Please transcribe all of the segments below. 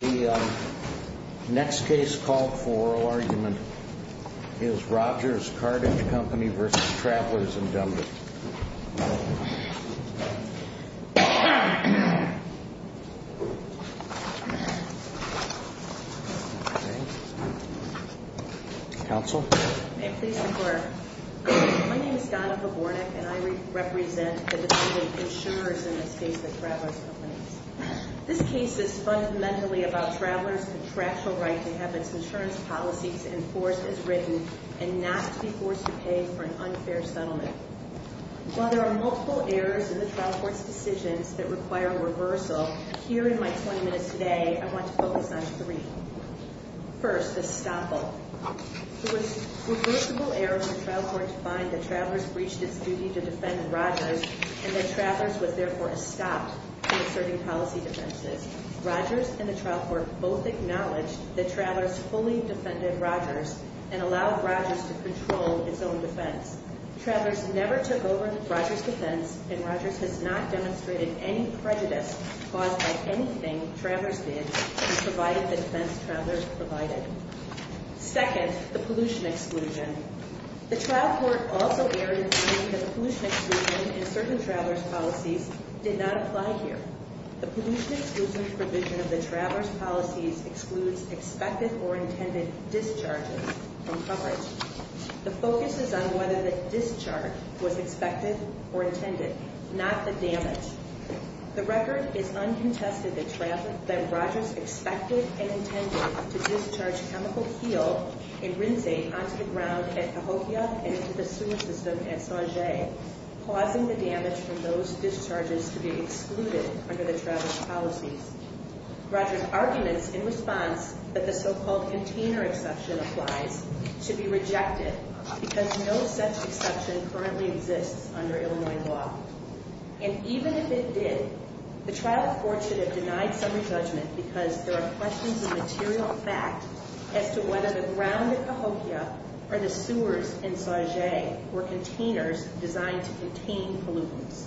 The next case called for oral argument is Rogers-Cartage Co. v. Travelers Indem. Counsel? May it please the Court. My name is Danica Bornek and I represent the District of Insurers in this case, the Travelers Co. This case is fundamentally about Travelers' contractual right to have its insurance policies enforced as written and not to be forced to pay for an unfair settlement. While there are multiple errors in the trial court's decisions that require a reversal, here in my 20 minutes today, I want to focus on three. First, the stopple. It was reversible error for the trial court to find that Travelers breached its duty to Rogers and the trial court both acknowledged that Travelers fully defended Rogers and allowed Rogers to control its own defense. Travelers never took over Rogers' defense and Rogers has not demonstrated any prejudice caused by anything Travelers did to provide the defense Travelers provided. Second, the pollution exclusion. The trial court also erred in finding that the pollution exclusion in certain Travelers' policies did not apply here. The pollution exclusion provision of the Travelers' policies excludes expected or intended discharges from coverage. The focus is on whether the discharge was expected or intended, not the damage. The record is uncontested that Rogers expected and intended to discharge chemical keel and rinsing onto the ground at Cahokia and into the sewer system at Sanjay, causing the damage from those discharges to be excluded under the Travelers' policies. Rogers' arguments in response that the so-called container exception applies should be rejected because no such exception currently exists under Illinois law. And even if it did, the trial court should have denied some re-judgment because there are questions of material fact as to whether the ground at Cahokia or the sewers in Sanjay were containers designed to contain pollutants.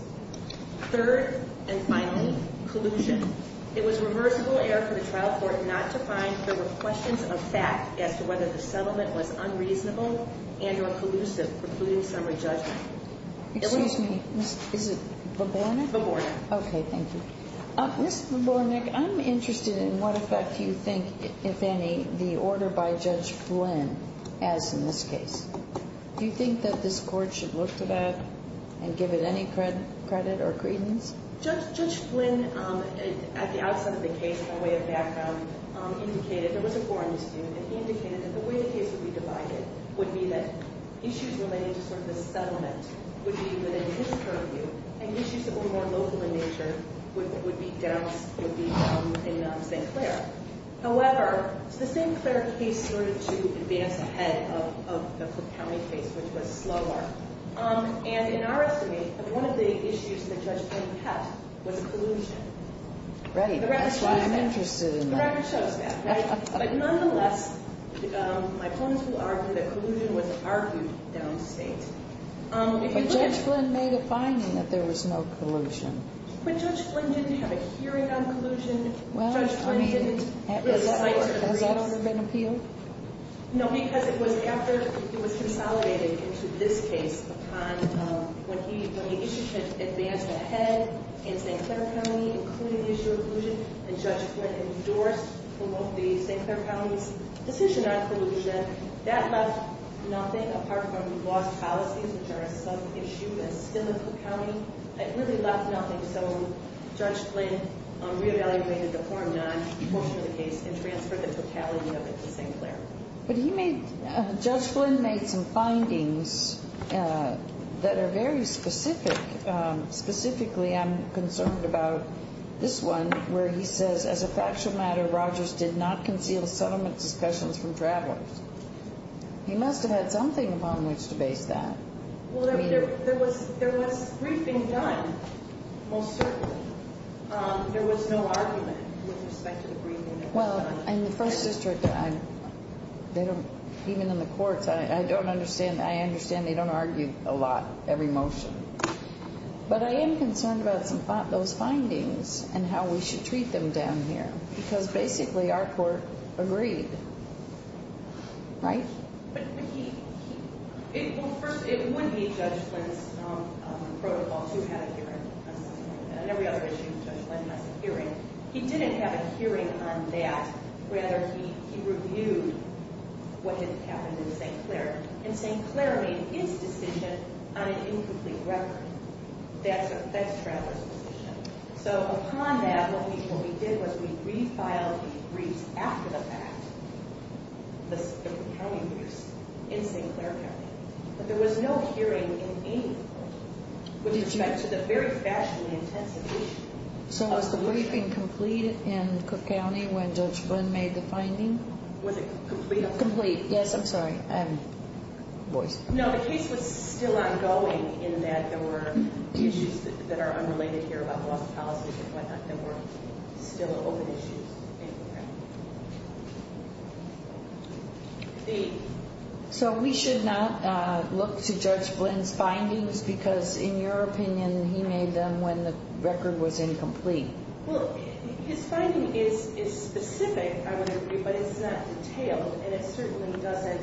Third, and finally, collusion. It was reversible error for the trial court not to find there were questions of fact as to whether the settlement was unreasonable and or collusive, precluding some re-judgment. Excuse me. Is it Vobornik? Vobornik. Okay, thank you. Ms. Vobornik, I'm interested in what effect you think, if any, the order by Judge Flynn has in this case. Do you think that this court should look to that and give it any credit or credence? Judge Flynn, at the outset of the case, by way of background, indicated there was a foreign student and he indicated that the way the case would be divided would be that issues related to sort of the settlement would be within his purview and issues that were more local in nature would be down in St. Clair. However, the St. Clair case started to advance ahead of the Cook County case, which was slower. And in our estimate, one of the issues that Judge Flynn had was collusion. Right, that's why I'm interested in that. The record shows that, right? But nonetheless, my opponents will argue that collusion was argued downstate. But Judge Flynn made a finding that there was no collusion. But Judge Flynn didn't have a hearing on collusion. Judge Flynn didn't. Has that ever been appealed? No, because it was after it was consolidated into this case upon when the issues had advanced ahead in St. Clair County, including the issue of collusion, and Judge Flynn endorsed from both the St. Clair County's decision on collusion, that left nothing apart from lost policies, which are a sub-issue and still in Cook County. It really left nothing. So Judge Flynn re-evaluated the form nine portion of the case and transferred the totality of it to St. Clair. But he made, Judge Flynn made some findings that are very specific. Specifically, I'm concerned about this one, where he says, as a factual matter, Rogers did not conceal settlement discussions from travelers. He must have had something upon which to base that. Well, I mean, there was a briefing done, most certainly. There was no argument with respect to the briefing that was done. Well, in the First District, even in the courts, I understand they don't argue a lot, every motion. But I am concerned about some of those findings and how we should treat them down here, because basically our court agreed. Right? Well, first, it wouldn't be Judge Flynn's protocol to have a hearing on settlement. On every other issue, Judge Flynn has a hearing. He didn't have a hearing on that. Rather, he reviewed what had happened in St. Clair. And St. Clair made its decision on an incomplete record. That's travelers' position. So upon that, what we did was we refiled the briefs after the fact. The county briefs in St. Clair County. But there was no hearing in any of the courtrooms. With respect to the very fast and intensive issue. So was the briefing complete in Cook County when Judge Flynn made the finding? Was it complete? Complete. Yes, I'm sorry. Voice. No, the case was still ongoing in that there were issues that are unrelated here, that were still open issues. So we should not look to Judge Flynn's findings because, in your opinion, he made them when the record was incomplete. Well, his finding is specific, I would agree, but it's not detailed. And it certainly doesn't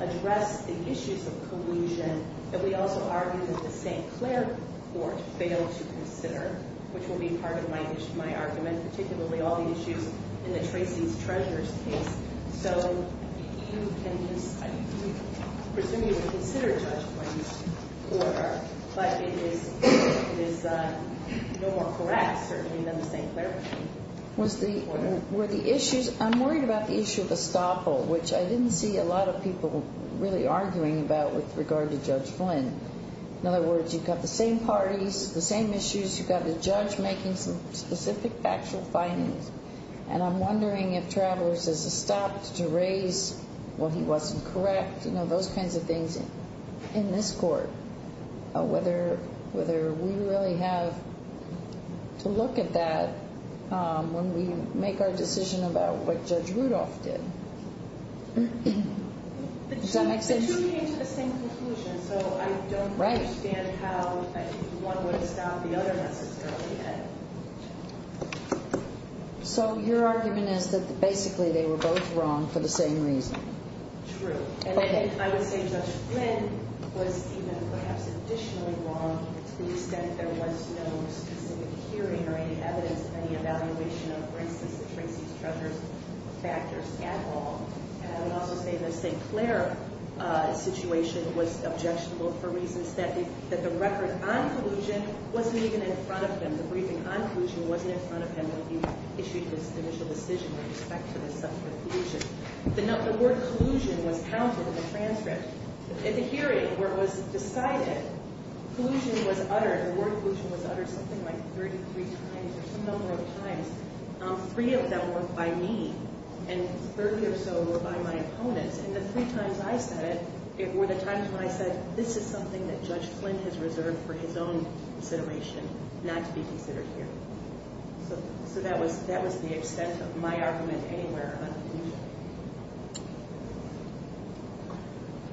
address the issues of collusion. But we also argue that the St. Clair court failed to consider, which will be part of my argument, particularly all the issues in the Tracy's Treasurer's case. So you can, I presume you would consider Judge Flynn's order, but it is no more correct, certainly, than the St. Clair court. Were the issues, I'm worried about the issue of estoppel, which I didn't see a lot of people really arguing about with regard to Judge Flynn. In other words, you've got the same parties, the same issues, you've got the judge making some specific factual findings, and I'm wondering if travelers is estopped to raise what he wasn't correct, you know, those kinds of things in this court, whether we really have to look at that when we make our decision about what Judge Rudolph did. Does that make sense? The two came to the same conclusion, so I don't understand how one would estop the other necessarily. So your argument is that basically they were both wrong for the same reason. True. And I would say Judge Flynn was even perhaps additionally wrong to the extent there was no specific hearing or any evidence of any evaluation of, for instance, the Tracy's treasurer's factors at all. And I would also say the St. Clair situation was objectionable for reasons that the record on collusion wasn't even in front of him, the briefing on collusion wasn't in front of him when he issued his initial decision with respect to the subject of collusion. The word collusion was counted in the transcript. At the hearing where it was decided collusion was uttered, the word collusion was uttered something like 33 times or some number of times. Three of them were by me, and 30 or so were by my opponents. And the three times I said it were the times when I said, this is something that Judge Flynn has reserved for his own consideration not to be considered here. So that was the extent of my argument anywhere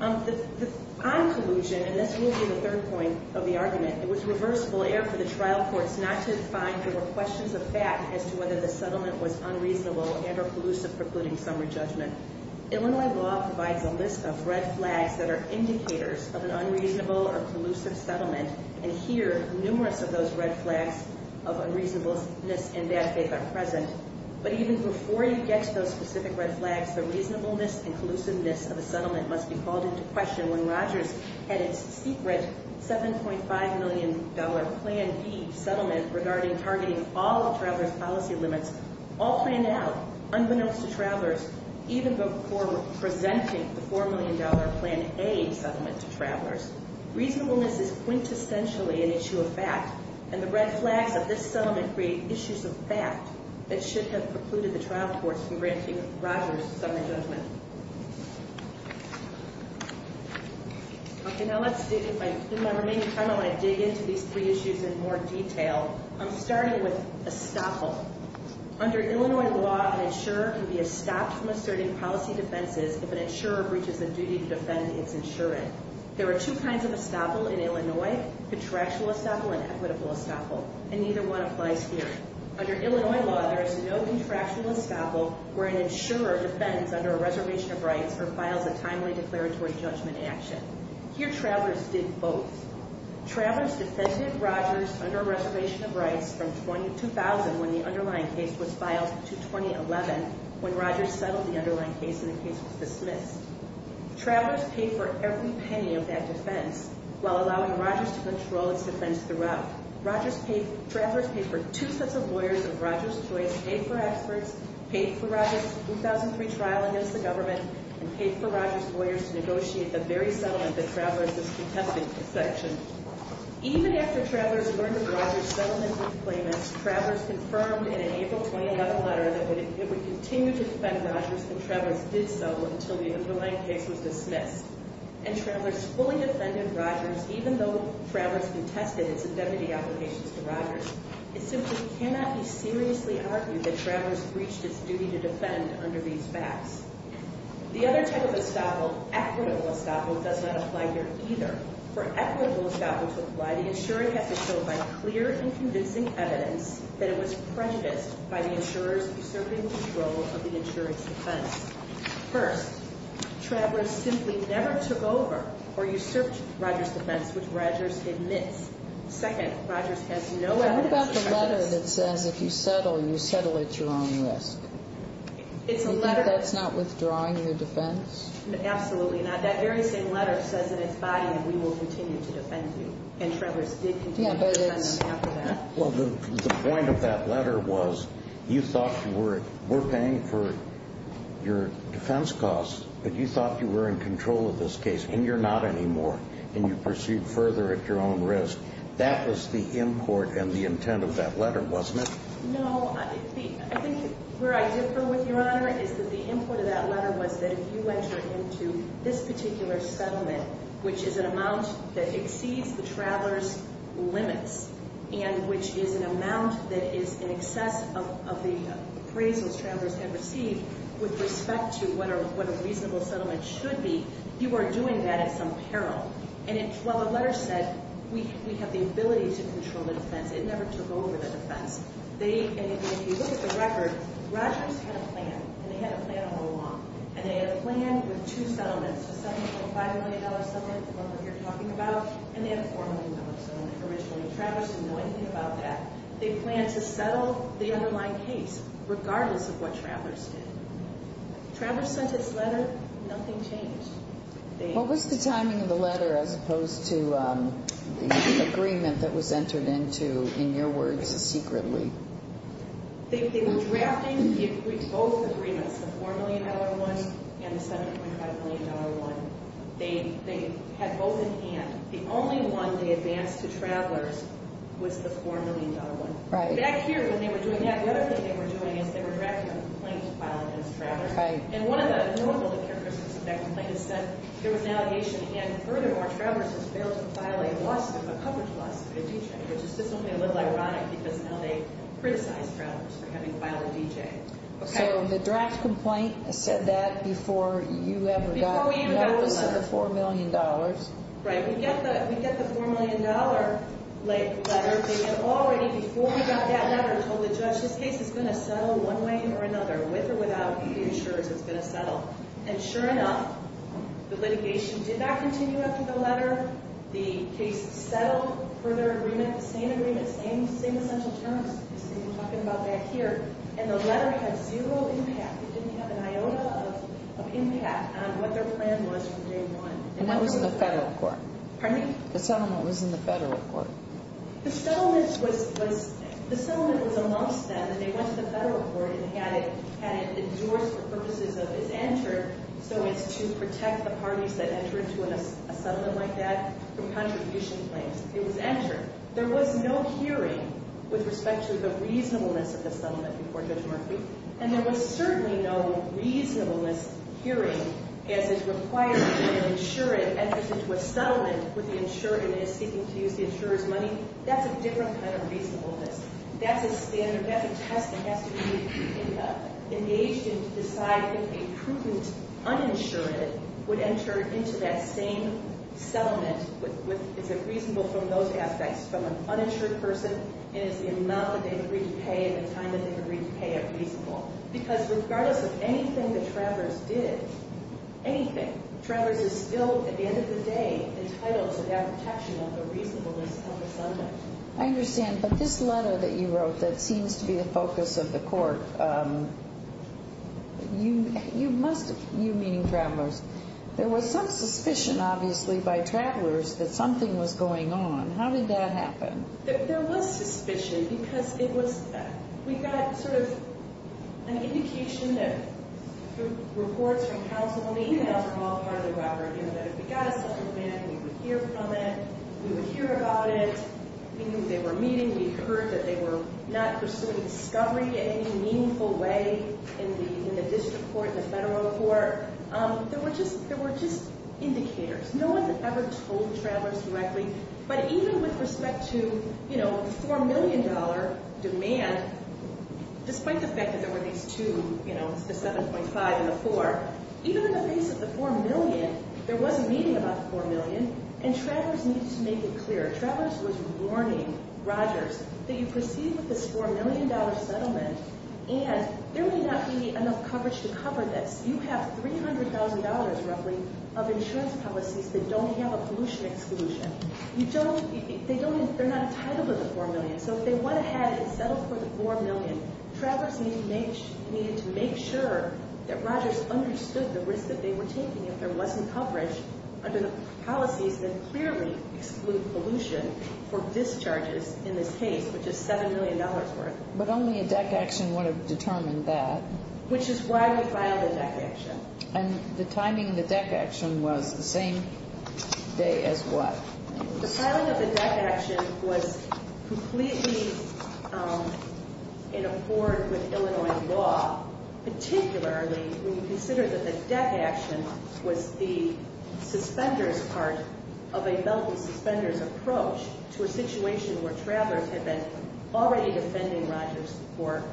on collusion. On collusion, and this will be the third point of the argument, it was reversible error for the trial courts not to find there were questions of fact as to whether the settlement was unreasonable and or collusive precluding summary judgment. Illinois law provides a list of red flags that are indicators of an unreasonable or collusive settlement, and here numerous of those red flags of unreasonableness and bad faith are present. But even before you get to those specific red flags, the reasonableness and collusiveness of a settlement must be called into question when Rogers had its secret $7.5 million Plan B settlement regarding targeting all of travelers' policy limits all planned out unbeknownst to travelers even before presenting the $4 million Plan A settlement to travelers. Reasonableness is quintessentially an issue of fact, and the red flags of this settlement create issues of fact that should have precluded the trial courts from granting Rogers summary judgment. Okay, now let's dig into my remaining time. I want to dig into these three issues in more detail. I'm starting with estoppel. Under Illinois law, an insurer can be estopped from asserting policy defenses if an insurer breaches the duty to defend its insurant. There are two kinds of estoppel in Illinois, contractual estoppel and equitable estoppel, and neither one applies here. Under Illinois law, there is no contractual estoppel where an insurer defends under a reservation of rights or files a timely declaratory judgment action. Here, travelers did both. Travelers defended Rogers under a reservation of rights from 2000, when the underlying case was filed, to 2011, when Rogers settled the underlying case and the case was dismissed. Travelers paid for every penny of that defense, while allowing Rogers to control its defense throughout. Travelers paid for two sets of lawyers of Rogers' choice, paid for experts, paid for Rogers' 2003 trial against the government, and paid for Rogers' lawyers to negotiate the very settlement that Travelers was contesting for section. Even after Travelers learned of Rogers' settlement of claimants, Travelers confirmed in an April 2011 letter that it would continue to defend Rogers, and Travelers did so until the underlying case was dismissed. And Travelers fully defended Rogers, even though Travelers contested its indemnity applications to Rogers. It simply cannot be seriously argued that Travelers breached its duty to defend under these facts. The other type of estoppel, equitable estoppel, does not apply here either. For equitable estoppel to apply, the insurer has to show by clear and convincing evidence that it was prejudiced by the insurers usurping control of the insurer's defense. First, Travelers simply never took over or usurped Rogers' defense, which Rogers admits. Second, Rogers has no evidence of prejudice. What about the letter that says if you settle, you settle at your own risk? It's a letter. Do you think that's not withdrawing your defense? Absolutely not. That very same letter says in its body that we will continue to defend you, and Travelers did continue to defend them after that. Well, the point of that letter was you thought you were paying for your defense costs, but you thought you were in control of this case, and you're not anymore, and you proceed further at your own risk. That was the import and the intent of that letter, wasn't it? No, I think where I differ with Your Honor is that the import of that letter was that if you enter into this particular settlement, which is an amount that exceeds the Travelers' limits and which is an amount that is in excess of the appraisals Travelers have received with respect to what a reasonable settlement should be, you are doing that at some peril. And while the letter said we have the ability to control the defense, it never took over the defense. If you look at the record, Rogers had a plan, and they had a plan all along, and they had a plan with two settlements, a $7.5 million settlement, the one we're here talking about, and they had a $4 million settlement originally. Travelers didn't know anything about that. They planned to settle the underlying case regardless of what Travelers did. Travelers sent this letter, nothing changed. What was the timing of the letter as opposed to the agreement that was entered into, in your words, secretly? They were drafting both agreements, the $4 million one and the $7.5 million one. They had both in hand. The only one they advanced to Travelers was the $4 million one. Back here, when they were doing that, the other thing they were doing is they were drafting a complaint to file against Travelers. And one of the numerical characteristics of that complaint is that there was an allegation, and furthermore, Travelers has failed to file a loss of a coverage loss to a DJ, which is just simply a little ironic because now they criticize Travelers for having filed a DJ. So the draft complaint said that before you ever got notice of the $4 million. Right. We get the $4 million letter. They had already, before we got that letter, told the judge, this case is going to settle one way or another, with or without the insurers. It's going to settle. And sure enough, the litigation did not continue after the letter. The case settled, further agreement, same agreement, same essential terms. We've been talking about that here. And the letter had zero impact. It didn't have an iota of impact on what their plan was from day one. And that was in the federal court. Pardon me? The settlement was in the federal court. The settlement was amongst them, and they went to the federal court and had it endorsed for purposes of, it's entered so as to protect the parties that enter into a settlement like that from contribution claims. It was entered. There was no hearing with respect to the reasonableness of the settlement before Judge Murphy, and there was certainly no reasonableness hearing as it requires that an insurant enters into a settlement with the insurer and is seeking to use the insurer's money. That's a different kind of reasonableness. That's a standard. That's a test that has to be engaged in to decide if a prudent uninsurant would enter into that same settlement. Is it reasonable from those aspects, from an uninsured person, and is the amount that they agree to pay and the time that they agree to pay it reasonable? Because regardless of anything the travelers did, anything, travelers are still, at the end of the day, entitled to that protection of the reasonableness of the settlement. I understand. But this letter that you wrote that seems to be the focus of the court, you meaning travelers, there was some suspicion, obviously, by travelers that something was going on. How did that happen? There was suspicion because it was, we got sort of an indication through reports from House of Lame that if we got a settlement, we would hear from it. We would hear about it. We knew they were meeting. We heard that they were not pursuing discovery in any meaningful way in the district court, the federal court. There were just indicators. No one ever told travelers directly, but even with respect to the $4 million demand, despite the fact that there were these two, the 7.5 and the 4, even in the face of the $4 million, there was a meeting about the $4 million, and travelers needed to make it clear. Travelers was warning Rogers that you proceed with this $4 million settlement, and there may not be enough coverage to cover this. You have $300,000 roughly of insurance policies that don't have a pollution exclusion. They're not entitled to the $4 million. So if they went ahead and settled for the $4 million, travelers needed to make sure that Rogers understood the risk that they were taking if there wasn't coverage under the policies that clearly exclude pollution for discharges in this case, which is $7 million worth. But only a DEC action would have determined that. Which is why we filed a DEC action. And the timing of the DEC action was the same day as what? The timing of the DEC action was completely in accord with Illinois law, particularly when you consider that the DEC action was the suspenders part of a belt and suspenders approach to a situation where travelers had been already defending Rogers for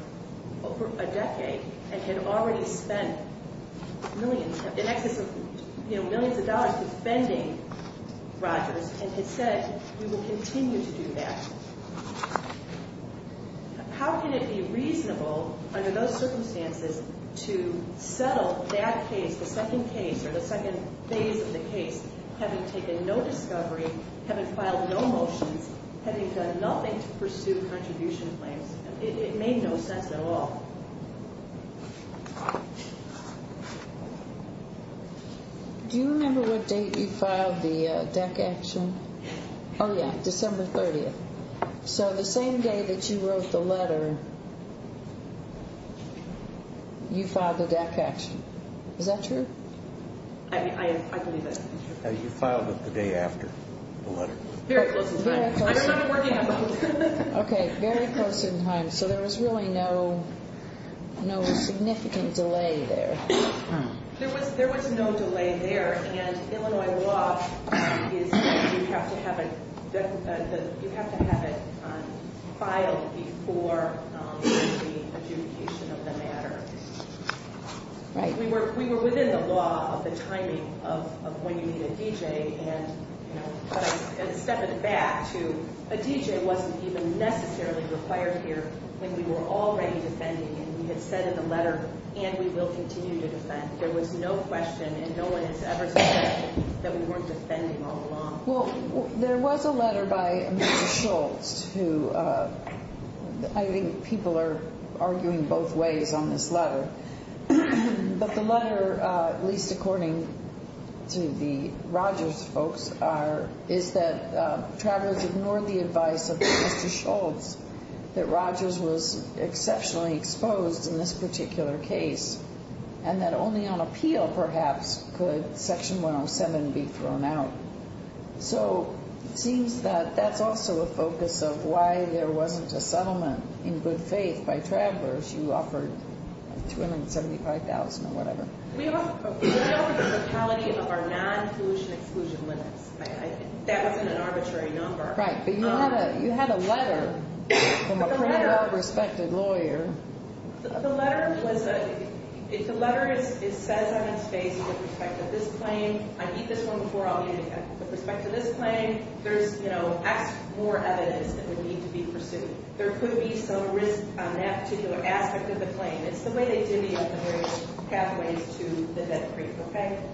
a decade and had already spent millions of dollars defending Rogers and had said we will continue to do that. How can it be reasonable under those circumstances to settle that case, the second case or the second phase of the case, having taken no discovery, having filed no motions, having done nothing to pursue contribution claims? It made no sense at all. Do you remember what date you filed the DEC action? Oh, yeah, December 30th. So the same day that you wrote the letter, you filed the DEC action. Is that true? I believe it. You filed it the day after the letter. Very close in time. Okay, very close in time. So there was really no significant delay there. There was no delay there, and Illinois law is that you have to have it filed before the adjudication of the matter. We were within the law of the timing of when you need a DJ, but I'm going to step it back to a DJ wasn't even necessarily required here when we were already defending, and we had said in the letter, and we will continue to defend. There was no question, and no one has ever said that we weren't defending all along. Well, there was a letter by Amanda Schultz, But the letter, at least according to the Rogers folks, is that travelers ignored the advice of Mr. Schultz, that Rogers was exceptionally exposed in this particular case, and that only on appeal, perhaps, could Section 107 be thrown out. So it seems that that's also a focus of why there wasn't a settlement in good faith by travelers. You offered $275,000 or whatever. We offered the quality of our non-collusion exclusion limits. That wasn't an arbitrary number. Right, but you had a letter from a pretty well-respected lawyer. The letter says on its face, with respect to this claim, I need this one before I'll need it again. With respect to this claim, there's more evidence that would need to be pursued. There could be some risk on that particular aspect of the claim. It's the way they divvied up the various pathways to the vet creek.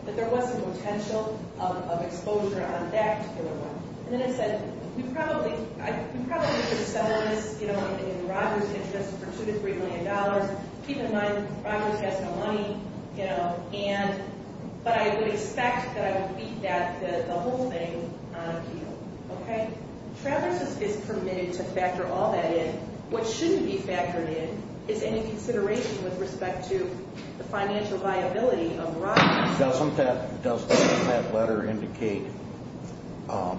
But there was some potential of exposure on that particular one. And then it said, we probably could settle this in Rogers' interest for $2 to $3 million. Keep in mind, Rogers has no money, but I would expect that I would beat that, the whole thing, on appeal. Travelers is permitted to factor all that in. What shouldn't be factored in is any consideration with respect to the financial viability of Rogers. Doesn't that letter indicate from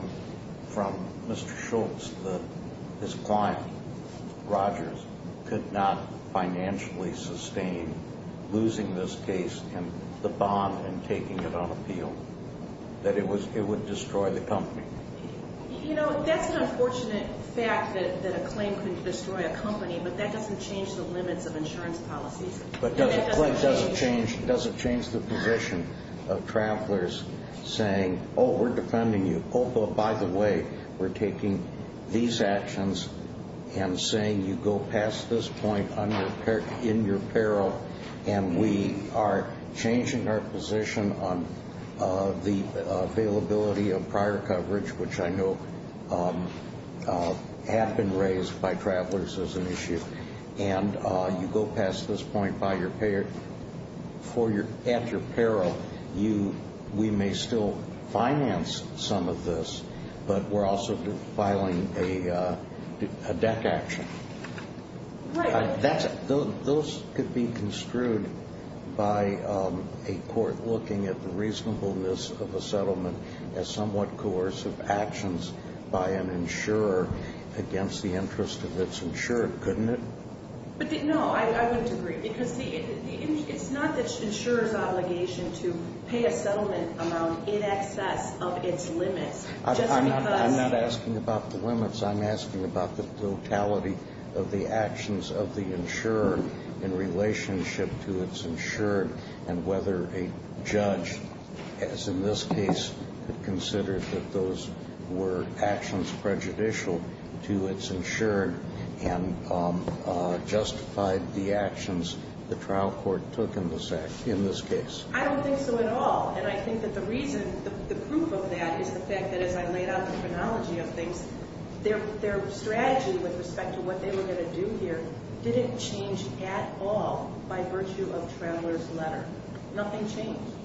Mr. Schultz that his client, Rogers, could not financially sustain losing this case and the bond and taking it on appeal? That it would destroy the company? You know, that's an unfortunate fact that a claim could destroy a company, but that doesn't change the limits of insurance policies. But does it change the position of travelers saying, oh, we're defending you, oh, but by the way, we're taking these actions, and saying you go past this point in your peril, and we are changing our position on the availability of prior coverage, which I know have been raised by travelers as an issue, and you go past this point at your peril, we may still finance some of this, but we're also filing a deck action. Right. Those could be construed by a court looking at the reasonableness of a settlement as somewhat coercive actions by an insurer against the interest of its insurer, couldn't it? No, I wouldn't agree. Because it's not the insurer's obligation to pay a settlement amount in excess of its limits. I'm not asking about the limits. I'm asking about the totality of the actions of the insurer in relationship to its insurer and whether a judge, as in this case, considered that those were actions prejudicial to its insurer and justified the actions the trial court took in this case. I don't think so at all. And I think that the reason, the proof of that is the fact that, as I laid out the chronology of things, their strategy with respect to what they were going to do here didn't change at all by virtue of Traveler's Letter. Nothing changed.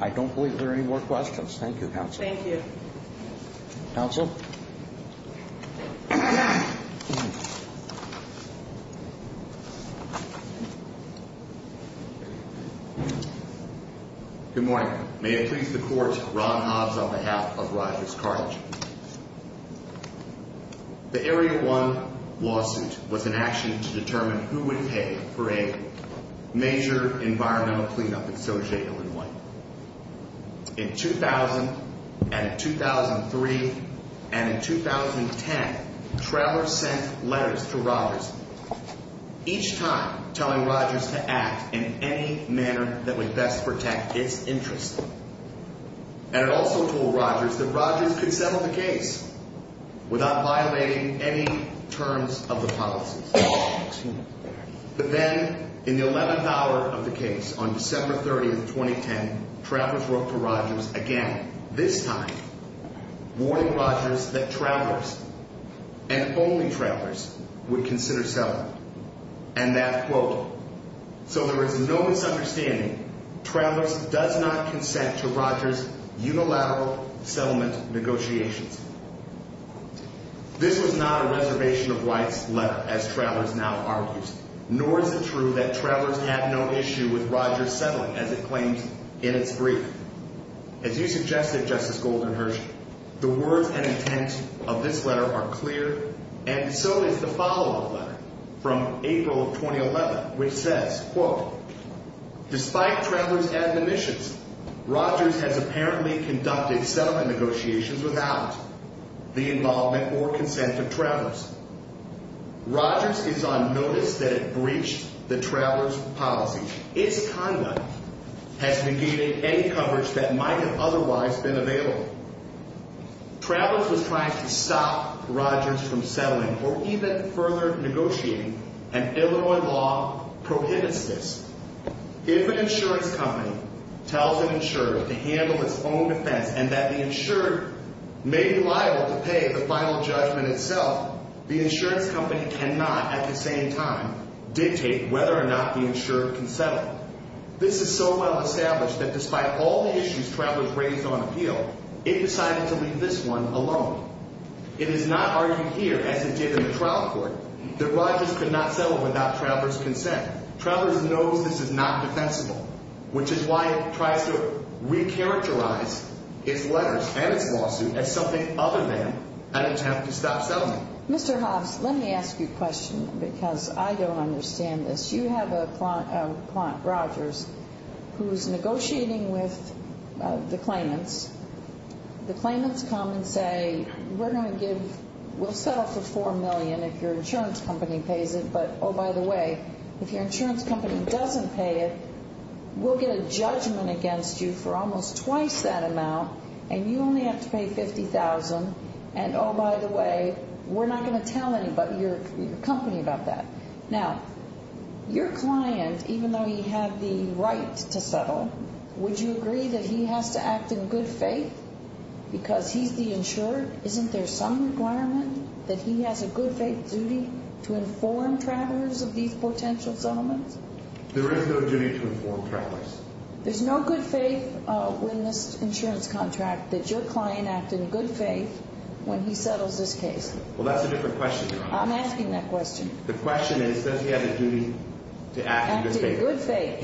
I don't believe there are any more questions. Thank you, Counsel. Thank you. Counsel? Good morning. May it please the Court, Ron Hobbs on behalf of Rogers Carthage. The Area 1 lawsuit was an action to determine who would pay for a major environmental cleanup in Sojay, Illinois. In 2000 and in 2003 and in 2010, Traveler sent letters to Rogers, each time telling Rogers to act in any manner that would best protect its interests. And it also told Rogers that Rogers could settle the case without violating any terms of the policies. But then, in the 11th hour of the case, on December 30, 2010, Traveler wrote to Rogers again, this time warning Rogers that Travelers and only Travelers would consider settling. And that, quote, so there is no misunderstanding, Travelers does not consent to Rogers' unilateral settlement negotiations. This was not a reservation of rights letter, as Travelers now argues, nor is it true that Travelers had no issue with Rogers settling, as it claims in its brief. As you suggested, Justice Goldenherz, the words and intent of this letter are clear, and so is the follow-up letter from April of 2011, which says, quote, despite Travelers' admonitions, Rogers has apparently conducted settlement negotiations without the involvement or consent of Travelers. Rogers is on notice that it breached the Travelers' policy. Its conduct has negated any coverage that might have otherwise been available. Travelers was trying to stop Rogers from settling or even further negotiating, and Illinois law prohibits this. If an insurance company tells an insurer to handle its own defense and that the insurer may be liable to pay the final judgment itself, the insurance company cannot at the same time dictate whether or not the insurer can settle. This is so well established that despite all the issues Travelers raised on appeal, it decided to leave this one alone. It is not argued here, as it did in the trial court, that Rogers could not settle without Travelers' consent. Travelers knows this is not defensible, which is why it tries to recharacterize its letters and its lawsuit as something other than an attempt to stop settlement. Mr. Hoffs, let me ask you a question, because I don't understand this. You have a client, Rogers, who's negotiating with the claimants. The claimants come and say, we're going to give, we'll settle for $4 million if your insurance company pays it, but, oh, by the way, if your insurance company doesn't pay it, we'll get a judgment against you for almost twice that amount, and you only have to pay $50,000, and, oh, by the way, we're not going to tell your company about that. Now, your client, even though he had the right to settle, would you agree that he has to act in good faith because he's the insurer? Isn't there some requirement that he has a good faith duty to inform Travelers of these potential settlements? There is no duty to inform Travelers. There's no good faith in this insurance contract that your client act in good faith when he settles this case? Well, that's a different question. I'm asking that question. The question is, does he have a duty to act in good faith? Act in good faith.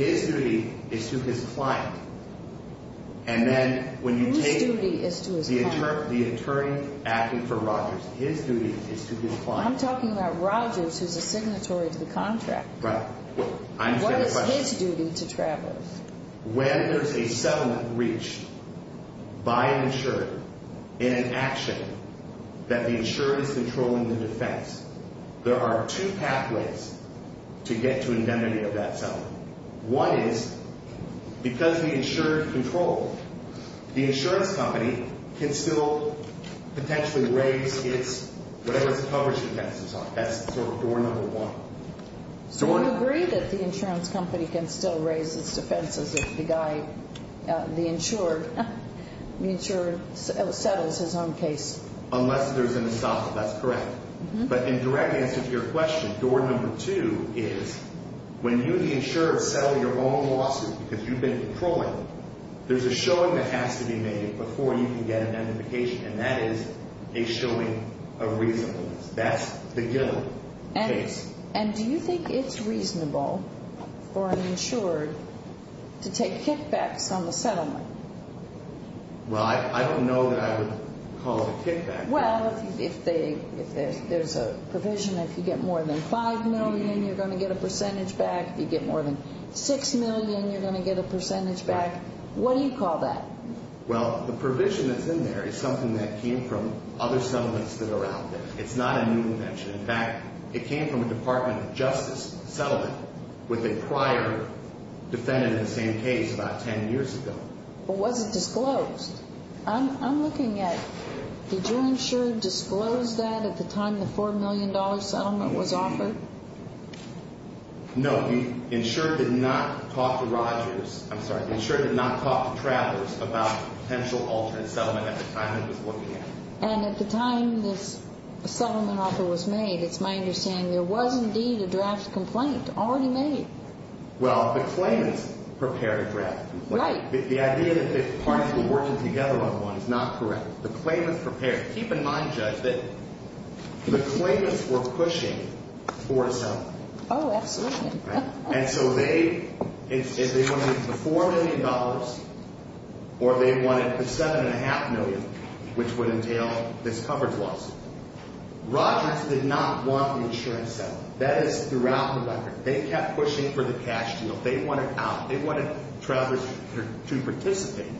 And then when you take... Whose duty is to his client? The attorney acting for Rogers. His duty is to his client. I'm talking about Rogers, who's a signatory to the contract. Right. I understand the question. What is his duty to Travelers? When there's a settlement reached by an insurer in an action that the insurer is controlling the defense, there are two pathways to get to indemnity of that settlement. One is, because the insurer controlled, the insurance company can still potentially raise its... whatever its coverage defenses are. That's sort of door number one. So you agree that the insurance company can still raise its defenses if the guy, the insured, settles his own case? Unless there's an assault. That's correct. But in direct answer to your question, door number two is when you, the insurer, settle your own lawsuit because you've been controlling, there's a showing that has to be made before you can get an indemnification, and that is a showing of reasonableness. That's the given case. And do you think it's reasonable for an insured to take kickbacks on the settlement? Well, I don't know that I would call it a kickback. Well, if there's a provision, if you get more than $5 million, you're going to get a percentage back. If you get more than $6 million, you're going to get a percentage back. What do you call that? Well, the provision that's in there is something that came from other settlements that are out there. It's not a new invention. In fact, it came from a Department of Justice settlement with a prior defendant in the same case about 10 years ago. But was it disclosed? I'm looking at, did your insurer disclose that at the time the $4 million settlement was offered? No. The insurer did not talk to Rogers, I'm sorry, the insurer did not talk to Travers about a potential alternate settlement at the time it was looking at. And at the time this settlement offer was made, it's my understanding, there was indeed a draft complaint already made. Well, the claimants prepared a draft complaint. Right. The idea that the parties were working together on one is not correct. The claimants prepared. Keep in mind, Judge, that the claimants were pushing for a settlement. Oh, absolutely. And so they, if they wanted the $4 million or they wanted the $7.5 million, which would entail this coverage loss, Rogers did not want an insurance settlement. That is throughout the record. They kept pushing for the cash deal. They wanted out. They wanted Travers to participate.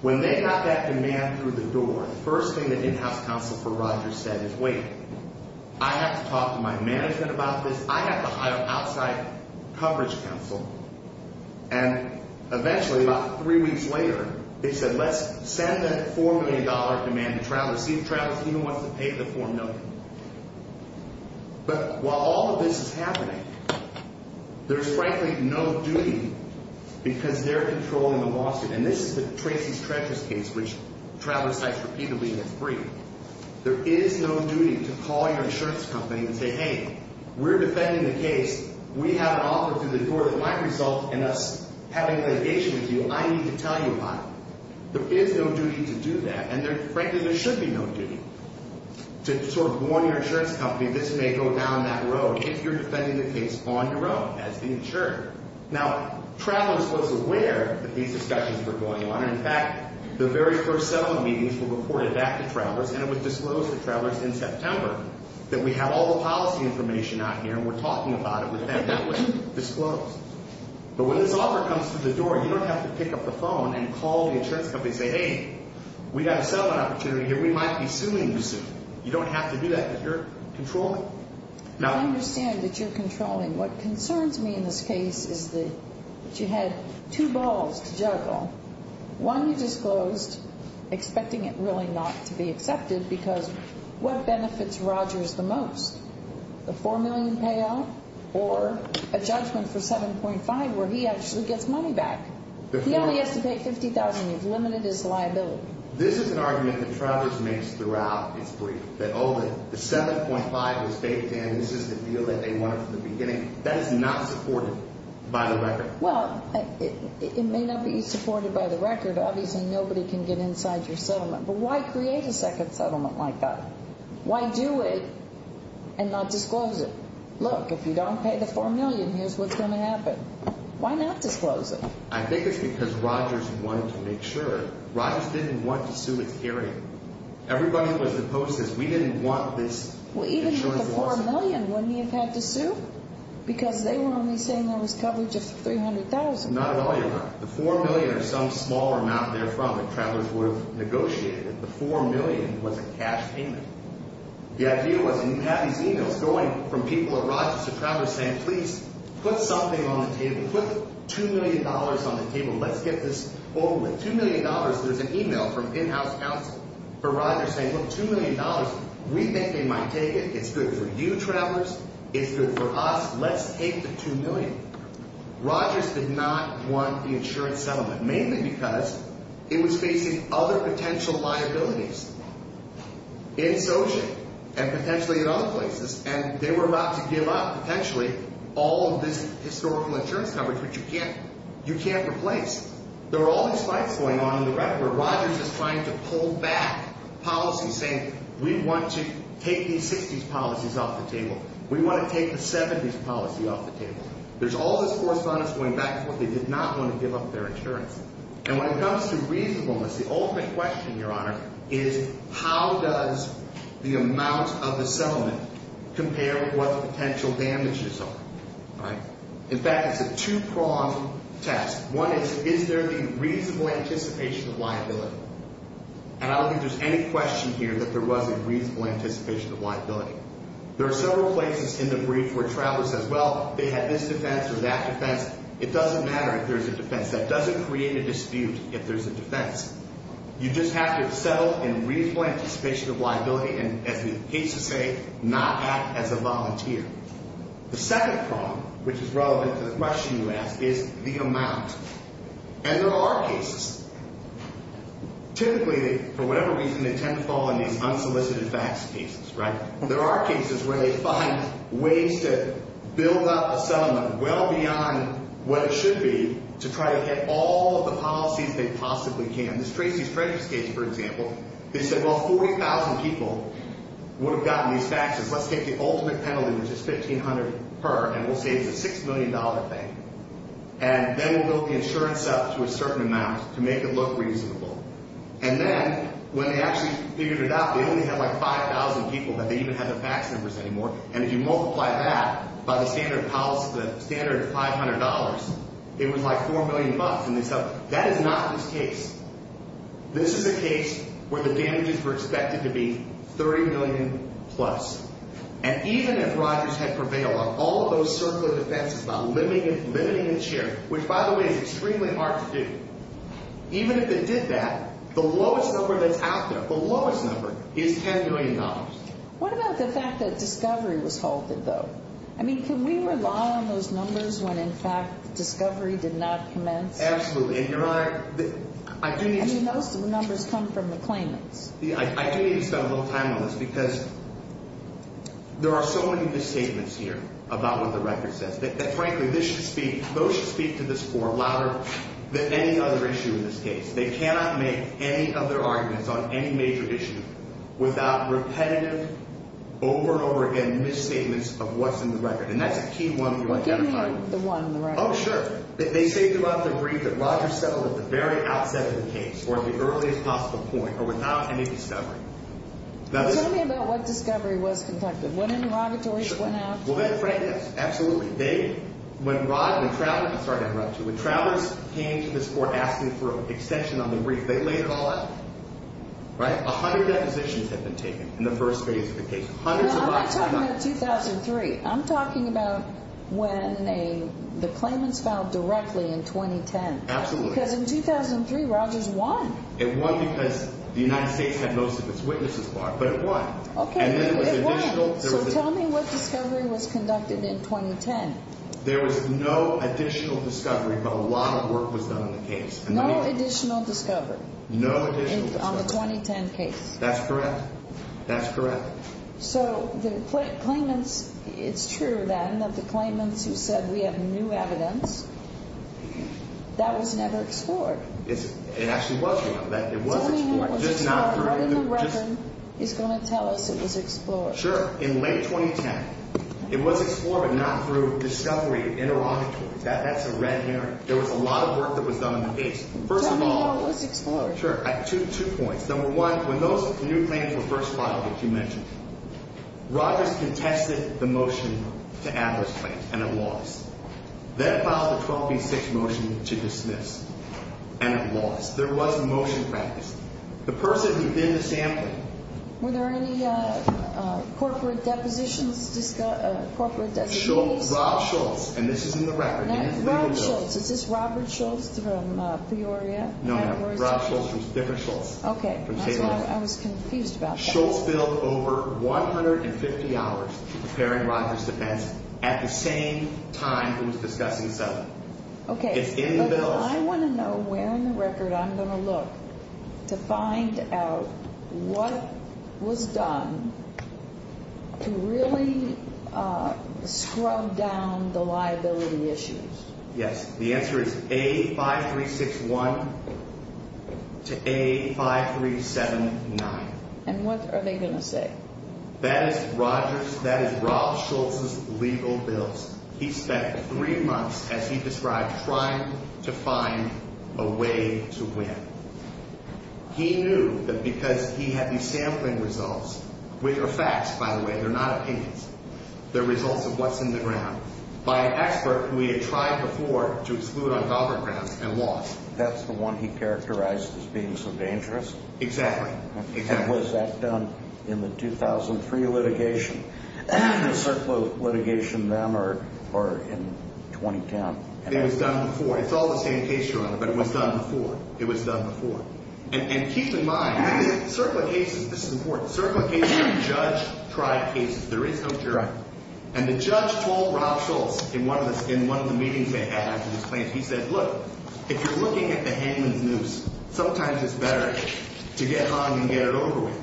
When they got that demand through the door, the first thing that in-house counsel for Rogers said is, wait, I have to talk to my management about this. I have to hire outside coverage counsel. And eventually, about three weeks later, they said, let's send that $4 million demand to Travers. See if Travers even wants to pay the $4 million. But while all of this is happening, there's frankly no duty, because they're controlling the lawsuit. And this is the Tracy's Treasures case, which Travers sites repeatedly and it's free. There is no duty to call your insurance company and say, hey, we're defending the case. We have an offer through the door that might result in us having a delegation with you. I need to tell you about it. There is no duty to do that. And frankly, there should be no duty to sort of warn your insurance company, this may go down that road if you're defending the case on your own as the insurer. Now, Travers was aware that these discussions were going on. In fact, the very first settlement meetings were reported back to Travers, and it was disclosed to Travers in September that we have all the policy information out here and we're talking about it with them. That was disclosed. But when this offer comes through the door, you don't have to pick up the phone and call the insurance company and say, hey, we got a settlement opportunity here. We might be suing you soon. You don't have to do that, but you're controlling. Now, I understand that you're controlling. What concerns me in this case is that you had two balls to juggle. One, you disclosed expecting it really not to be accepted because what benefits Rogers the most? A $4 million payout or a judgment for $7.5 million where he actually gets money back? He only has to pay $50,000. You've limited his liability. This is an argument that Travers makes throughout his brief, that, oh, the $7.5 is baked in. This is the deal that they wanted from the beginning. That is not supported by the record. Well, it may not be supported by the record. Obviously, nobody can get inside your settlement. But why create a second settlement like that? Why do it and not disclose it? Why not disclose it? I think it's because Rogers wanted to make sure. Rogers didn't want to sue his hearing. Everybody who was opposed says, we didn't want this insurance lawsuit. Well, even if the $4 million, wouldn't he have had to sue? Because they were only saying there was coverage of $300,000. Not at all, Your Honor. The $4 million or some small amount therefrom that Travers would have negotiated. The $4 million was a cash payment. The idea was, and you have these e-mails going from people at Rogers to Travers saying, please, put something on the table. Put the $2 million on the table. Let's get this over with. $2 million, there's an e-mail from in-house counsel for Rogers saying, look, $2 million, we think they might take it. It's good for you, Travers. It's good for us. Let's take the $2 million. Rogers did not want the insurance settlement, mainly because it was facing other potential liabilities. In Sochi, and potentially in other places. And they were about to give up, potentially, all of this historical insurance coverage, which you can't replace. There were all these fights going on in the record where Rogers is trying to pull back policies saying, we want to take these 60s policies off the table. We want to take the 70s policy off the table. There's all this correspondence going back and forth. They did not want to give up their insurance. And when it comes to reasonableness, the ultimate question, Your Honor, is how does the amount of the settlement compare with what the potential damages are? In fact, it's a two-pronged test. One is, is there a reasonable anticipation of liability? And I don't think there's any question here that there was a reasonable anticipation of liability. There are several places in the brief where Travers says, well, they had this defense or that defense. It doesn't matter if there's a defense. That doesn't create a dispute if there's a defense. You just have to settle in reasonable anticipation of liability and, as he hates to say, not act as a volunteer. The second problem, which is relevant to the question you asked, is the amount. And there are cases. Typically, for whatever reason, they tend to fall in these unsolicited facts cases, right? There are cases where they find ways to build up a settlement well beyond what it should be to try to hit all of the policies they possibly can. This Tracy's Treasures case, for example, they said, well, 40,000 people would have gotten these taxes. Let's take the ultimate penalty, which is $1,500 per, and we'll say it's a $6 million thing. And then we'll build the insurance up to a certain amount to make it look reasonable. And then when they actually figured it out, they only had, like, 5,000 people. They didn't even have the fax numbers anymore. And if you multiply that by the standard of policy, the standard of $500, it was like $4 million. And they said, that is not this case. This is a case where the damages were expected to be $30 million plus. And even if Rogers had prevailed on all of those circular defenses by limiting the share, which, by the way, is extremely hard to do, even if it did that, the lowest number that's out there, the lowest number, is $10 million. What about the fact that discovery was halted, though? I mean, can we rely on those numbers when, in fact, discovery did not commence? Absolutely. And, Your Honor, I do need to— I mean, those numbers come from the claimants. I do need to spend a little time on this because there are so many misstatements here about what the record says that, frankly, this should speak—those should speak to this court louder than any other issue in this case. They cannot make any other arguments on any major issue without repetitive, over and over again, misstatements of what's in the record. And that's a key one you identified. Give me the one on the right. Oh, sure. They say throughout their brief that Rogers settled at the very outset of the case, or the earliest possible point, or without any discovery. Tell me about what discovery was conducted. When interrogatories went out? Well, that's right. Absolutely. They—when Rod and Travis—sorry to interrupt you. When Travis came to this court asking for an extension on the brief, they laid it all out. Right? A hundred depositions had been taken in the first phase of the case. No, I'm not talking about 2003. I'm talking about when the claimants filed directly in 2010. Absolutely. Because in 2003, Rogers won. It won because the United States had most of its witnesses barred. But it won. Okay. It won. So tell me what discovery was conducted in 2010. There was no additional discovery, but a lot of work was done on the case. No additional discovery. No additional discovery. On the 2010 case. That's correct. That's correct. So the claimants—it's true, then, that the claimants who said, we have new evidence, that was never explored. It actually was, ma'am. It was explored. Tell me when it was explored. He's going to tell us it was explored. Sure. In late 2010. It was explored, but not through discovery and interrogatory. That's a red herring. There was a lot of work that was done on the case. First of all— Tell me when it was explored. Sure. Two points. Number one, when those new claims were first filed, as you mentioned, Rogers contested the motion to add those claims, and it lost. Then it filed the 12B6 motion to dismiss, and it lost. There was a motion practiced. The person who did the sampling— Were there any corporate depositions—corporate designees? Schultz. Rob Schultz. And this is in the record. Rob Schultz. Is this Robert Schultz from Peoria? No, no. Rob Schultz. Dicker Schultz. Okay. That's why I was confused about that. Schultz billed over 150 hours to preparing Rogers' defense at the same time he was discussing Sullivan. Okay. It's in the bill. I want to know where in the record I'm going to look to find out what was done to really scrub down the liability issues. Yes. The answer is A5361 to A5379. And what are they going to say? That is Rogers—that is Rob Schultz's legal bills. He spent three months, as he described, trying to find a way to win. He knew that because he had these sampling results, which are facts, by the way, they're not opinions, they're results of what's in the ground, by an expert who he had tried before to exclude on government grounds and lost. That's the one he characterized as being so dangerous? Exactly. And was that done in the 2003 litigation? The CERCLA litigation then or in 2010? It was done before. It's all the same case, Your Honor, but it was done before. It was done before. And keep in mind, CERCLA cases, this is important, CERCLA cases are judge-tried cases. There is no jury. And the judge told Rob Schultz in one of the meetings they had after his claims, he said, look, if you're looking at the hangman's noose, sometimes it's better to get hung and get it over with.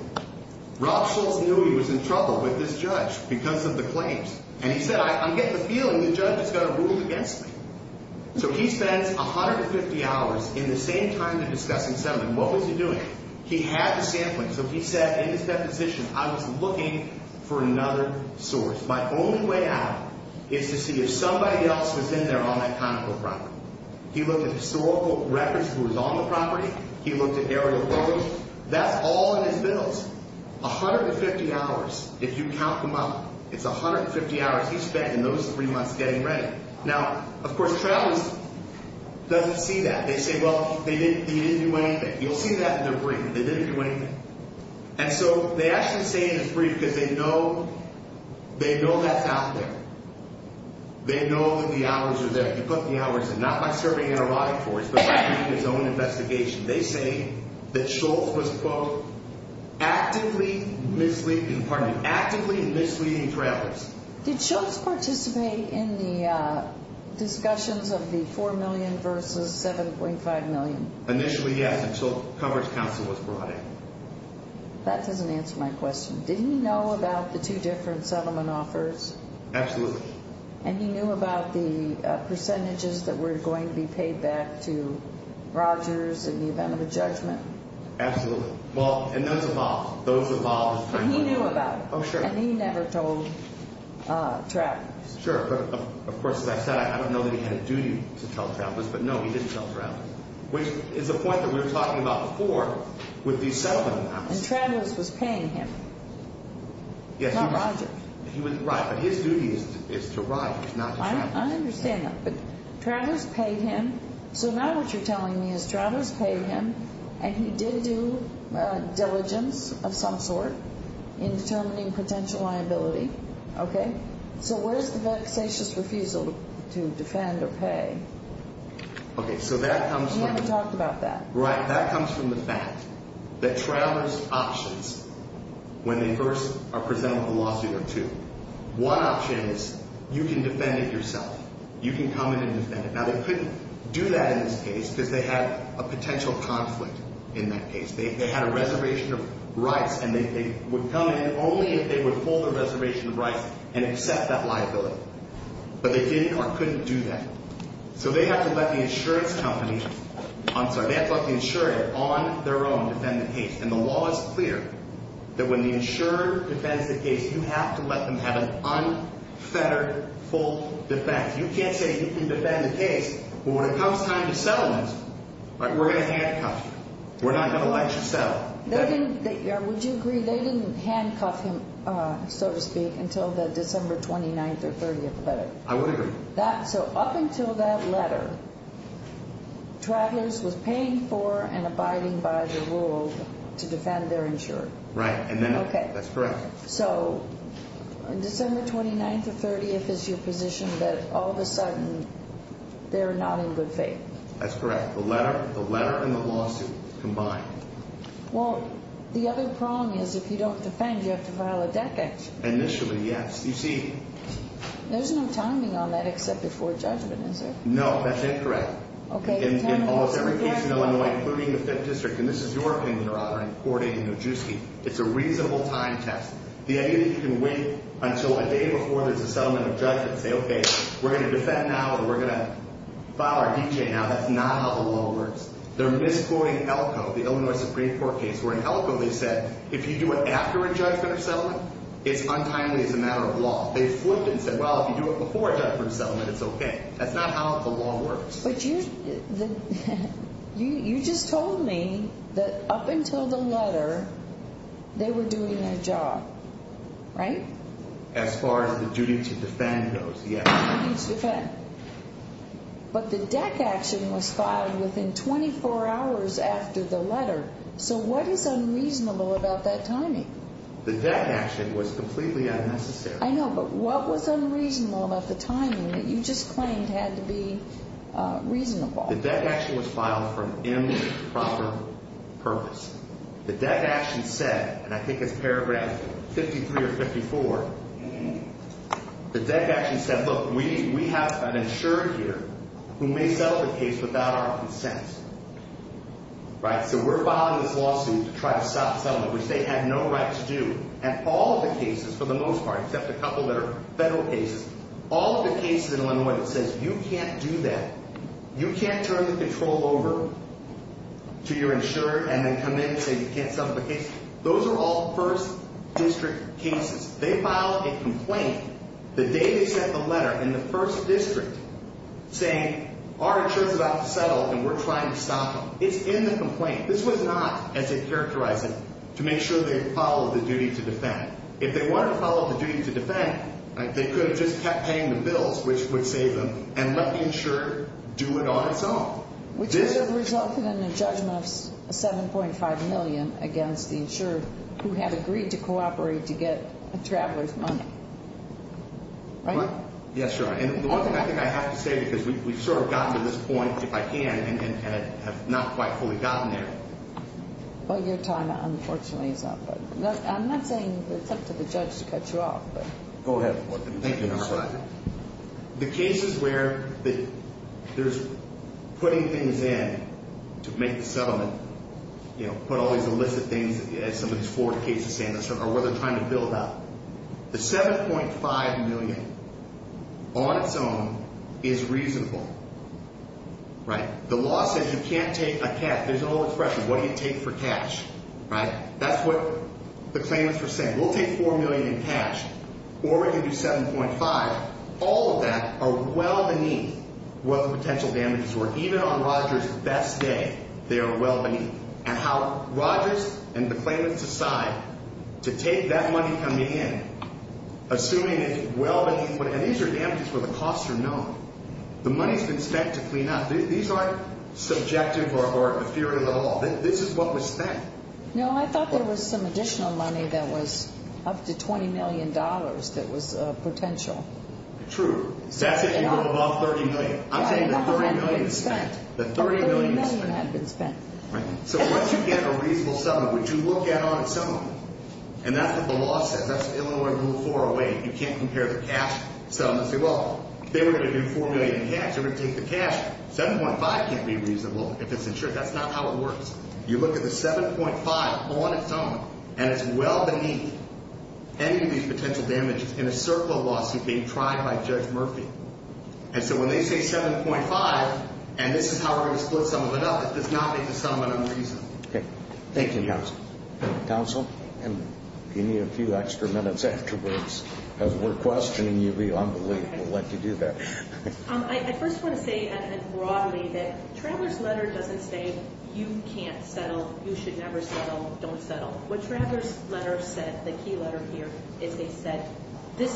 Rob Schultz knew he was in trouble with this judge because of the claims. And he said, I'm getting the feeling the judge is going to rule against me. So he spends 150 hours in the same time they're discussing settlement. What was he doing? He had the sampling. So he said in his deposition, I was looking for another source. My only way out is to see if somebody else was in there on that conical property. He looked at historical records who was on the property. He looked at aerial photos. That's all in his bills, 150 hours if you count them up. It's 150 hours he spent in those three months getting ready. Now, of course, travelers don't see that. They say, well, they didn't do anything. You'll see that in their brief. They didn't do anything. And so they actually say in his brief because they know that's out there. They know that the hours are there. He put the hours in, not by serving in a riot force, but by doing his own investigation. They say that Schultz was, quote, actively misleading travelers. Did Schultz participate in the discussions of the $4 million versus $7.5 million? Initially, yes, until Coverage Council was brought in. That doesn't answer my question. Did he know about the two different settlement offers? Absolutely. And he knew about the percentages that were going to be paid back to Rogers in the event of a judgment? Absolutely. Well, and those evolved. Those evolved. But he knew about it. Oh, sure. And he never told travelers. Sure. But, of course, as I said, I don't know that he had a duty to tell travelers. But, no, he didn't tell travelers, which is a point that we were talking about before with these settlement offers. And travelers was paying him, not Rogers. Right. But his duty is to Rogers, not to travelers. I understand that. But travelers paid him. So now what you're telling me is travelers paid him, and he did do diligence of some sort in determining potential liability. Okay. So where's the vexatious refusal to defend or pay? So that comes from the fact. He never talked about that. Right. One option is you can defend it yourself. You can come in and defend it. Now, they couldn't do that in this case because they had a potential conflict in that case. They had a reservation of rights, and they would come in only if they would hold a reservation of rights and accept that liability. But they didn't or couldn't do that. So they have to let the insurance company – I'm sorry. They have to let the insurer on their own defend the case. And the law is clear that when the insurer defends the case, you have to let them have an unfettered, full defense. You can't say you can defend the case, but when it comes time to settle it, we're going to handcuff you. We're not going to let you settle. Would you agree they didn't handcuff him, so to speak, until the December 29th or 30th letter? I would agree. So up until that letter, Travelers was paying for and abiding by the rule to defend their insurer. Right. Okay. That's correct. So December 29th or 30th is your position that all of a sudden they're not in good faith. That's correct. The letter and the lawsuit combined. Well, the other problem is if you don't defend, you have to file a decat. Initially, yes. You see. There's no timing on that except before judgment, is there? No, that's incorrect. Okay. In almost every case in Illinois, including the Fifth District, and this is your opinion, Your Honor, in courting Nojewski, it's a reasonable time test. The idea that you can wait until a day before there's a settlement of judgment and say, okay, we're going to defend now or we're going to file our decat now, that's not how the law works. They're misquoting Elko, the Illinois Supreme Court case, where in Elko they said if you do it after a judgment of settlement, it's untimely. It's a matter of law. They flipped it and said, well, if you do it before a judgment of settlement, it's okay. That's not how the law works. But you just told me that up until the letter, they were doing their job, right? As far as the duty to defend goes, yes. Duty to defend. But the dec action was filed within 24 hours after the letter, so what is unreasonable about that timing? The dec action was completely unnecessary. I know, but what was unreasonable about the timing that you just claimed had to be reasonable? The dec action was filed for an improper purpose. The dec action said, and I think it's paragraph 53 or 54, the dec action said, look, we have an insurer here who may settle the case without our consent, right? So we're filing this lawsuit to try to stop settlement, which they have no right to do. And all of the cases, for the most part, except a couple that are federal cases, all of the cases in Illinois that says you can't do that, you can't turn the control over to your insurer and then come in and say you can't settle the case, those are all first district cases. They filed a complaint the day they sent the letter in the first district saying our insurer is about to settle and we're trying to stop him. It's in the complaint. This was not, as they characterized it, to make sure they followed the duty to defend. If they wanted to follow the duty to defend, they could have just kept paying the bills, which would save them, and let the insurer do it on its own. Which would have resulted in a judgment of $7.5 million against the insurer who had agreed to cooperate to get the traveler's money, right? Yes, Your Honor. And the one thing I think I have to say, because we've sort of gotten to this point, if I can, and have not quite fully gotten there. Well, your time, unfortunately, is up. I'm not saying it's up to the judge to cut you off. Go ahead. Thank you, Your Honor. That's right. The cases where there's putting things in to make the settlement, you know, put all these illicit things, as some of these Florida cases stand, are where they're trying to build up. The $7.5 million on its own is reasonable, right? The law says you can't take a cash. There's a whole expression, what do you take for cash, right? That's what the claimants were saying. We'll take $4 million in cash, or we can do $7.5. All of that are well beneath what the potential damages were. Even on Rogers' best day, they are well beneath. And how Rogers and the claimants decide to take that money coming in, assuming it's well beneath what it is. And these are damages where the costs are known. The money's been spent to clean up. These aren't subjective or efferative at all. This is what was spent. No, I thought there was some additional money that was up to $20 million that was potential. True. That's if you go above $30 million. I'm saying that $30 million is spent. $30 million had been spent. So once you get a reasonable settlement, would you look at it on its own? And that's what the law says. That's Illinois Rule 408. You can't compare the cash settlement and say, well, if they were going to do $4 million in cash, they would take the cash. $7.5 can't be reasonable if it's insured. That's not how it works. You look at the $7.5 on its own, and it's well beneath any of these potential damages in a circle lawsuit being tried by Judge Murphy. And so when they say $7.5, and this is how we're going to split some of it up, it does not make the settlement unreasonable. Okay. Thank you, counsel. Counsel? And if you need a few extra minutes afterwards, as we're questioning you, we'll let you do that. I first want to say broadly that Traveler's Letter doesn't say you can't settle, you should never settle, don't settle. What Traveler's Letter said, the key letter here, is they said this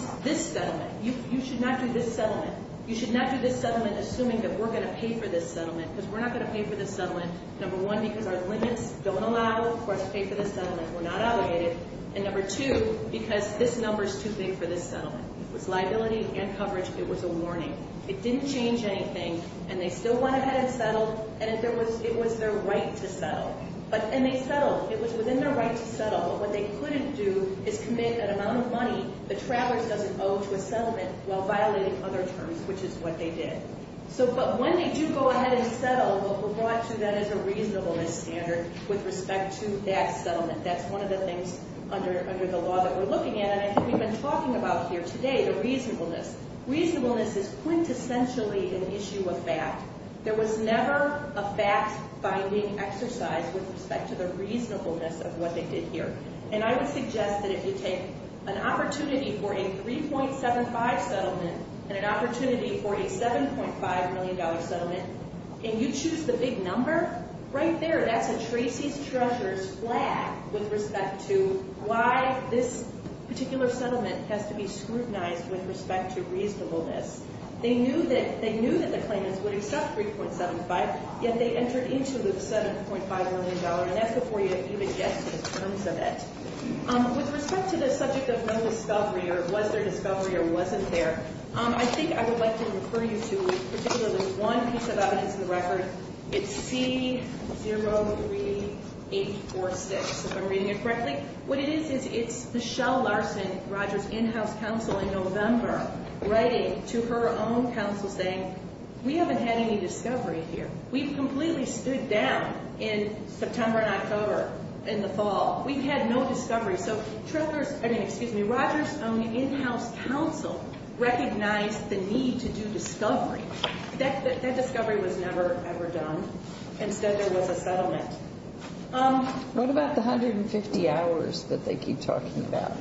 settlement, you should not do this settlement, you should not do this settlement assuming that we're going to pay for this settlement because we're not going to pay for this settlement, number one, because our limits don't allow us to pay for this settlement, we're not obligated, and number two, because this number is too big for this settlement. It was liability and coverage. It was a warning. It didn't change anything, and they still went ahead and settled, and it was their right to settle. And they settled. It was within their right to settle, but what they couldn't do is commit an amount of money that Traveler's doesn't owe to a settlement while violating other terms, which is what they did. But when they do go ahead and settle, what we'll draw to that is a reasonableness standard with respect to that settlement. That's one of the things under the law that we're looking at, and I think we've been talking about here today, the reasonableness. Reasonableness is quintessentially an issue of fact. There was never a fact-finding exercise with respect to the reasonableness of what they did here, and I would suggest that if you take an opportunity for a 3.75 settlement and an opportunity for a $7.5 million settlement, and you choose the big number, right there, that's a Tracy's Treasurer's flag with respect to why this particular settlement has to be scrutinized with respect to reasonableness. They knew that the claimants would accept 3.75, yet they entered into the $7.5 million, and that's before you even get to the terms of it. With respect to the subject of no discovery or was there discovery or wasn't there, I think I would like to refer you to particularly one piece of evidence in the record. It's C03846, if I'm reading it correctly. What it is is it's Michelle Larson, Rogers' in-house counsel in November, writing to her own counsel saying, we haven't had any discovery here. We've completely stood down in September and October, in the fall. We've had no discovery. So Rogers' own in-house counsel recognized the need to do discovery. That discovery was never, ever done. Instead, there was a settlement. What about the 150 hours that they keep talking about,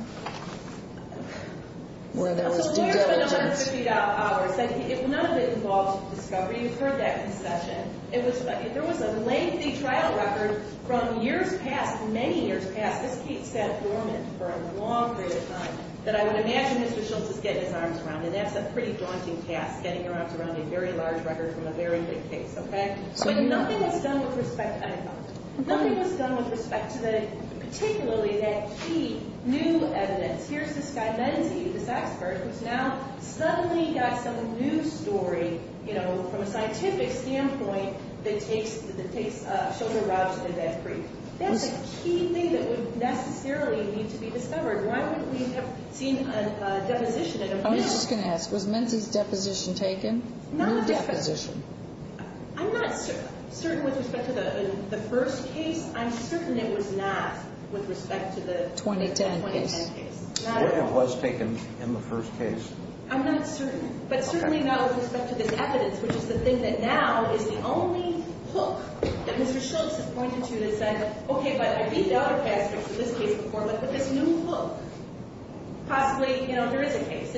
where there was due diligence? So where's the 150 hours? None of it involved discovery. You've heard that concession. There was a lengthy trial record from years past, many years past. This case sat dormant for a long period of time that I would imagine Mr. Schultz is getting his arms around, and that's a pretty daunting task, getting your arms around a very large record from a very big case. But nothing was done with respect to that. Nothing was done with respect to particularly that key new evidence. Here's this guy Menzi, the sax person, who's now suddenly got some new story, from a scientific standpoint, that takes Schultz and Rogers to the death brief. That's a key thing that would necessarily need to be discovered. Why would we have seen a deposition in a brief? I was just going to ask, was Menzi's deposition taken? No deposition. I'm not certain with respect to the first case. I'm certain it was not with respect to the 2010 case. It was taken in the first case. I'm not certain, but certainly not with respect to this evidence, which is the thing that now is the only hook that Mr. Schultz has pointed to that said, okay, but I read dollar cash scripts in this case before, but this new hook, possibly, you know, there is a case.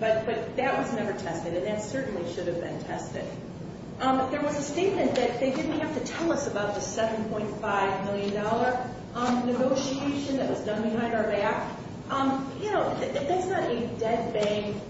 But that was never tested, and that certainly should have been tested. There was a statement that they didn't have to tell us about the $7.5 million negotiation that was done behind our back. You know, that's not a dead bang,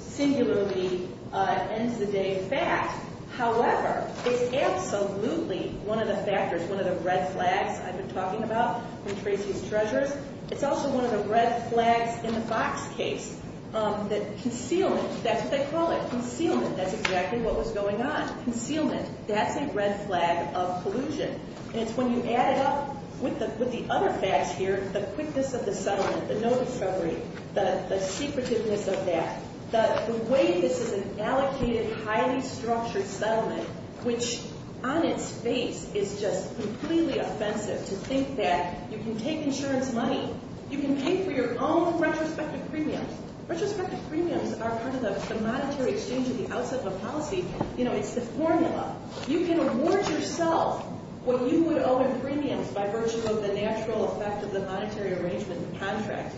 singularly, end of the day fact. However, it's absolutely one of the factors, one of the red flags I've been talking about, It's also one of the red flags in the Fox case, that concealment, that's what they call it, concealment, that's exactly what was going on, concealment. That's a red flag of collusion. And it's when you add it up with the other facts here, the quickness of the settlement, the no discovery, the secretiveness of that, the way this is an allocated, highly structured settlement, which on its face is just completely offensive to think that you can take insurance money, you can pay for your own retrospective premiums. Retrospective premiums are part of the monetary exchange at the outset of a policy. You know, it's the formula. You can award yourself what you would owe in premiums by virtue of the natural effect of the monetary arrangement in the contract.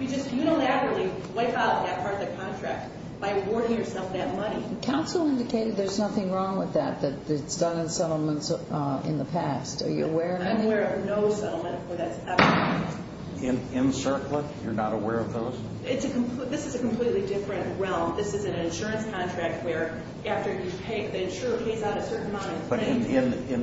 You just unilaterally wipe out that part of the contract by awarding yourself that money. Counsel indicated there's nothing wrong with that, that it's done in settlements in the past. Are you aware of that? I'm aware of no settlement where that's ever happened. In CERCLA, you're not aware of those? This is a completely different realm. This is an insurance contract where after you pay, the insurer pays out a certain amount. But in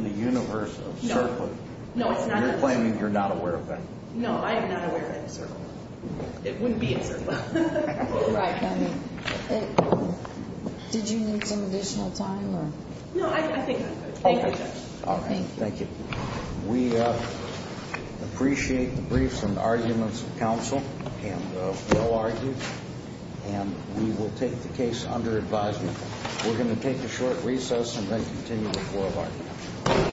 the universe of CERCLA, you're claiming you're not aware of that? No, I am not aware of that in CERCLA. It wouldn't be in CERCLA. Right. Did you need some additional time? No, I think I'm good. Thank you, Judge. All right. Thank you. We appreciate the briefs and arguments of counsel and well-argued, and we will take the case under advisement. We're going to take a short recess and then continue the floor of argument.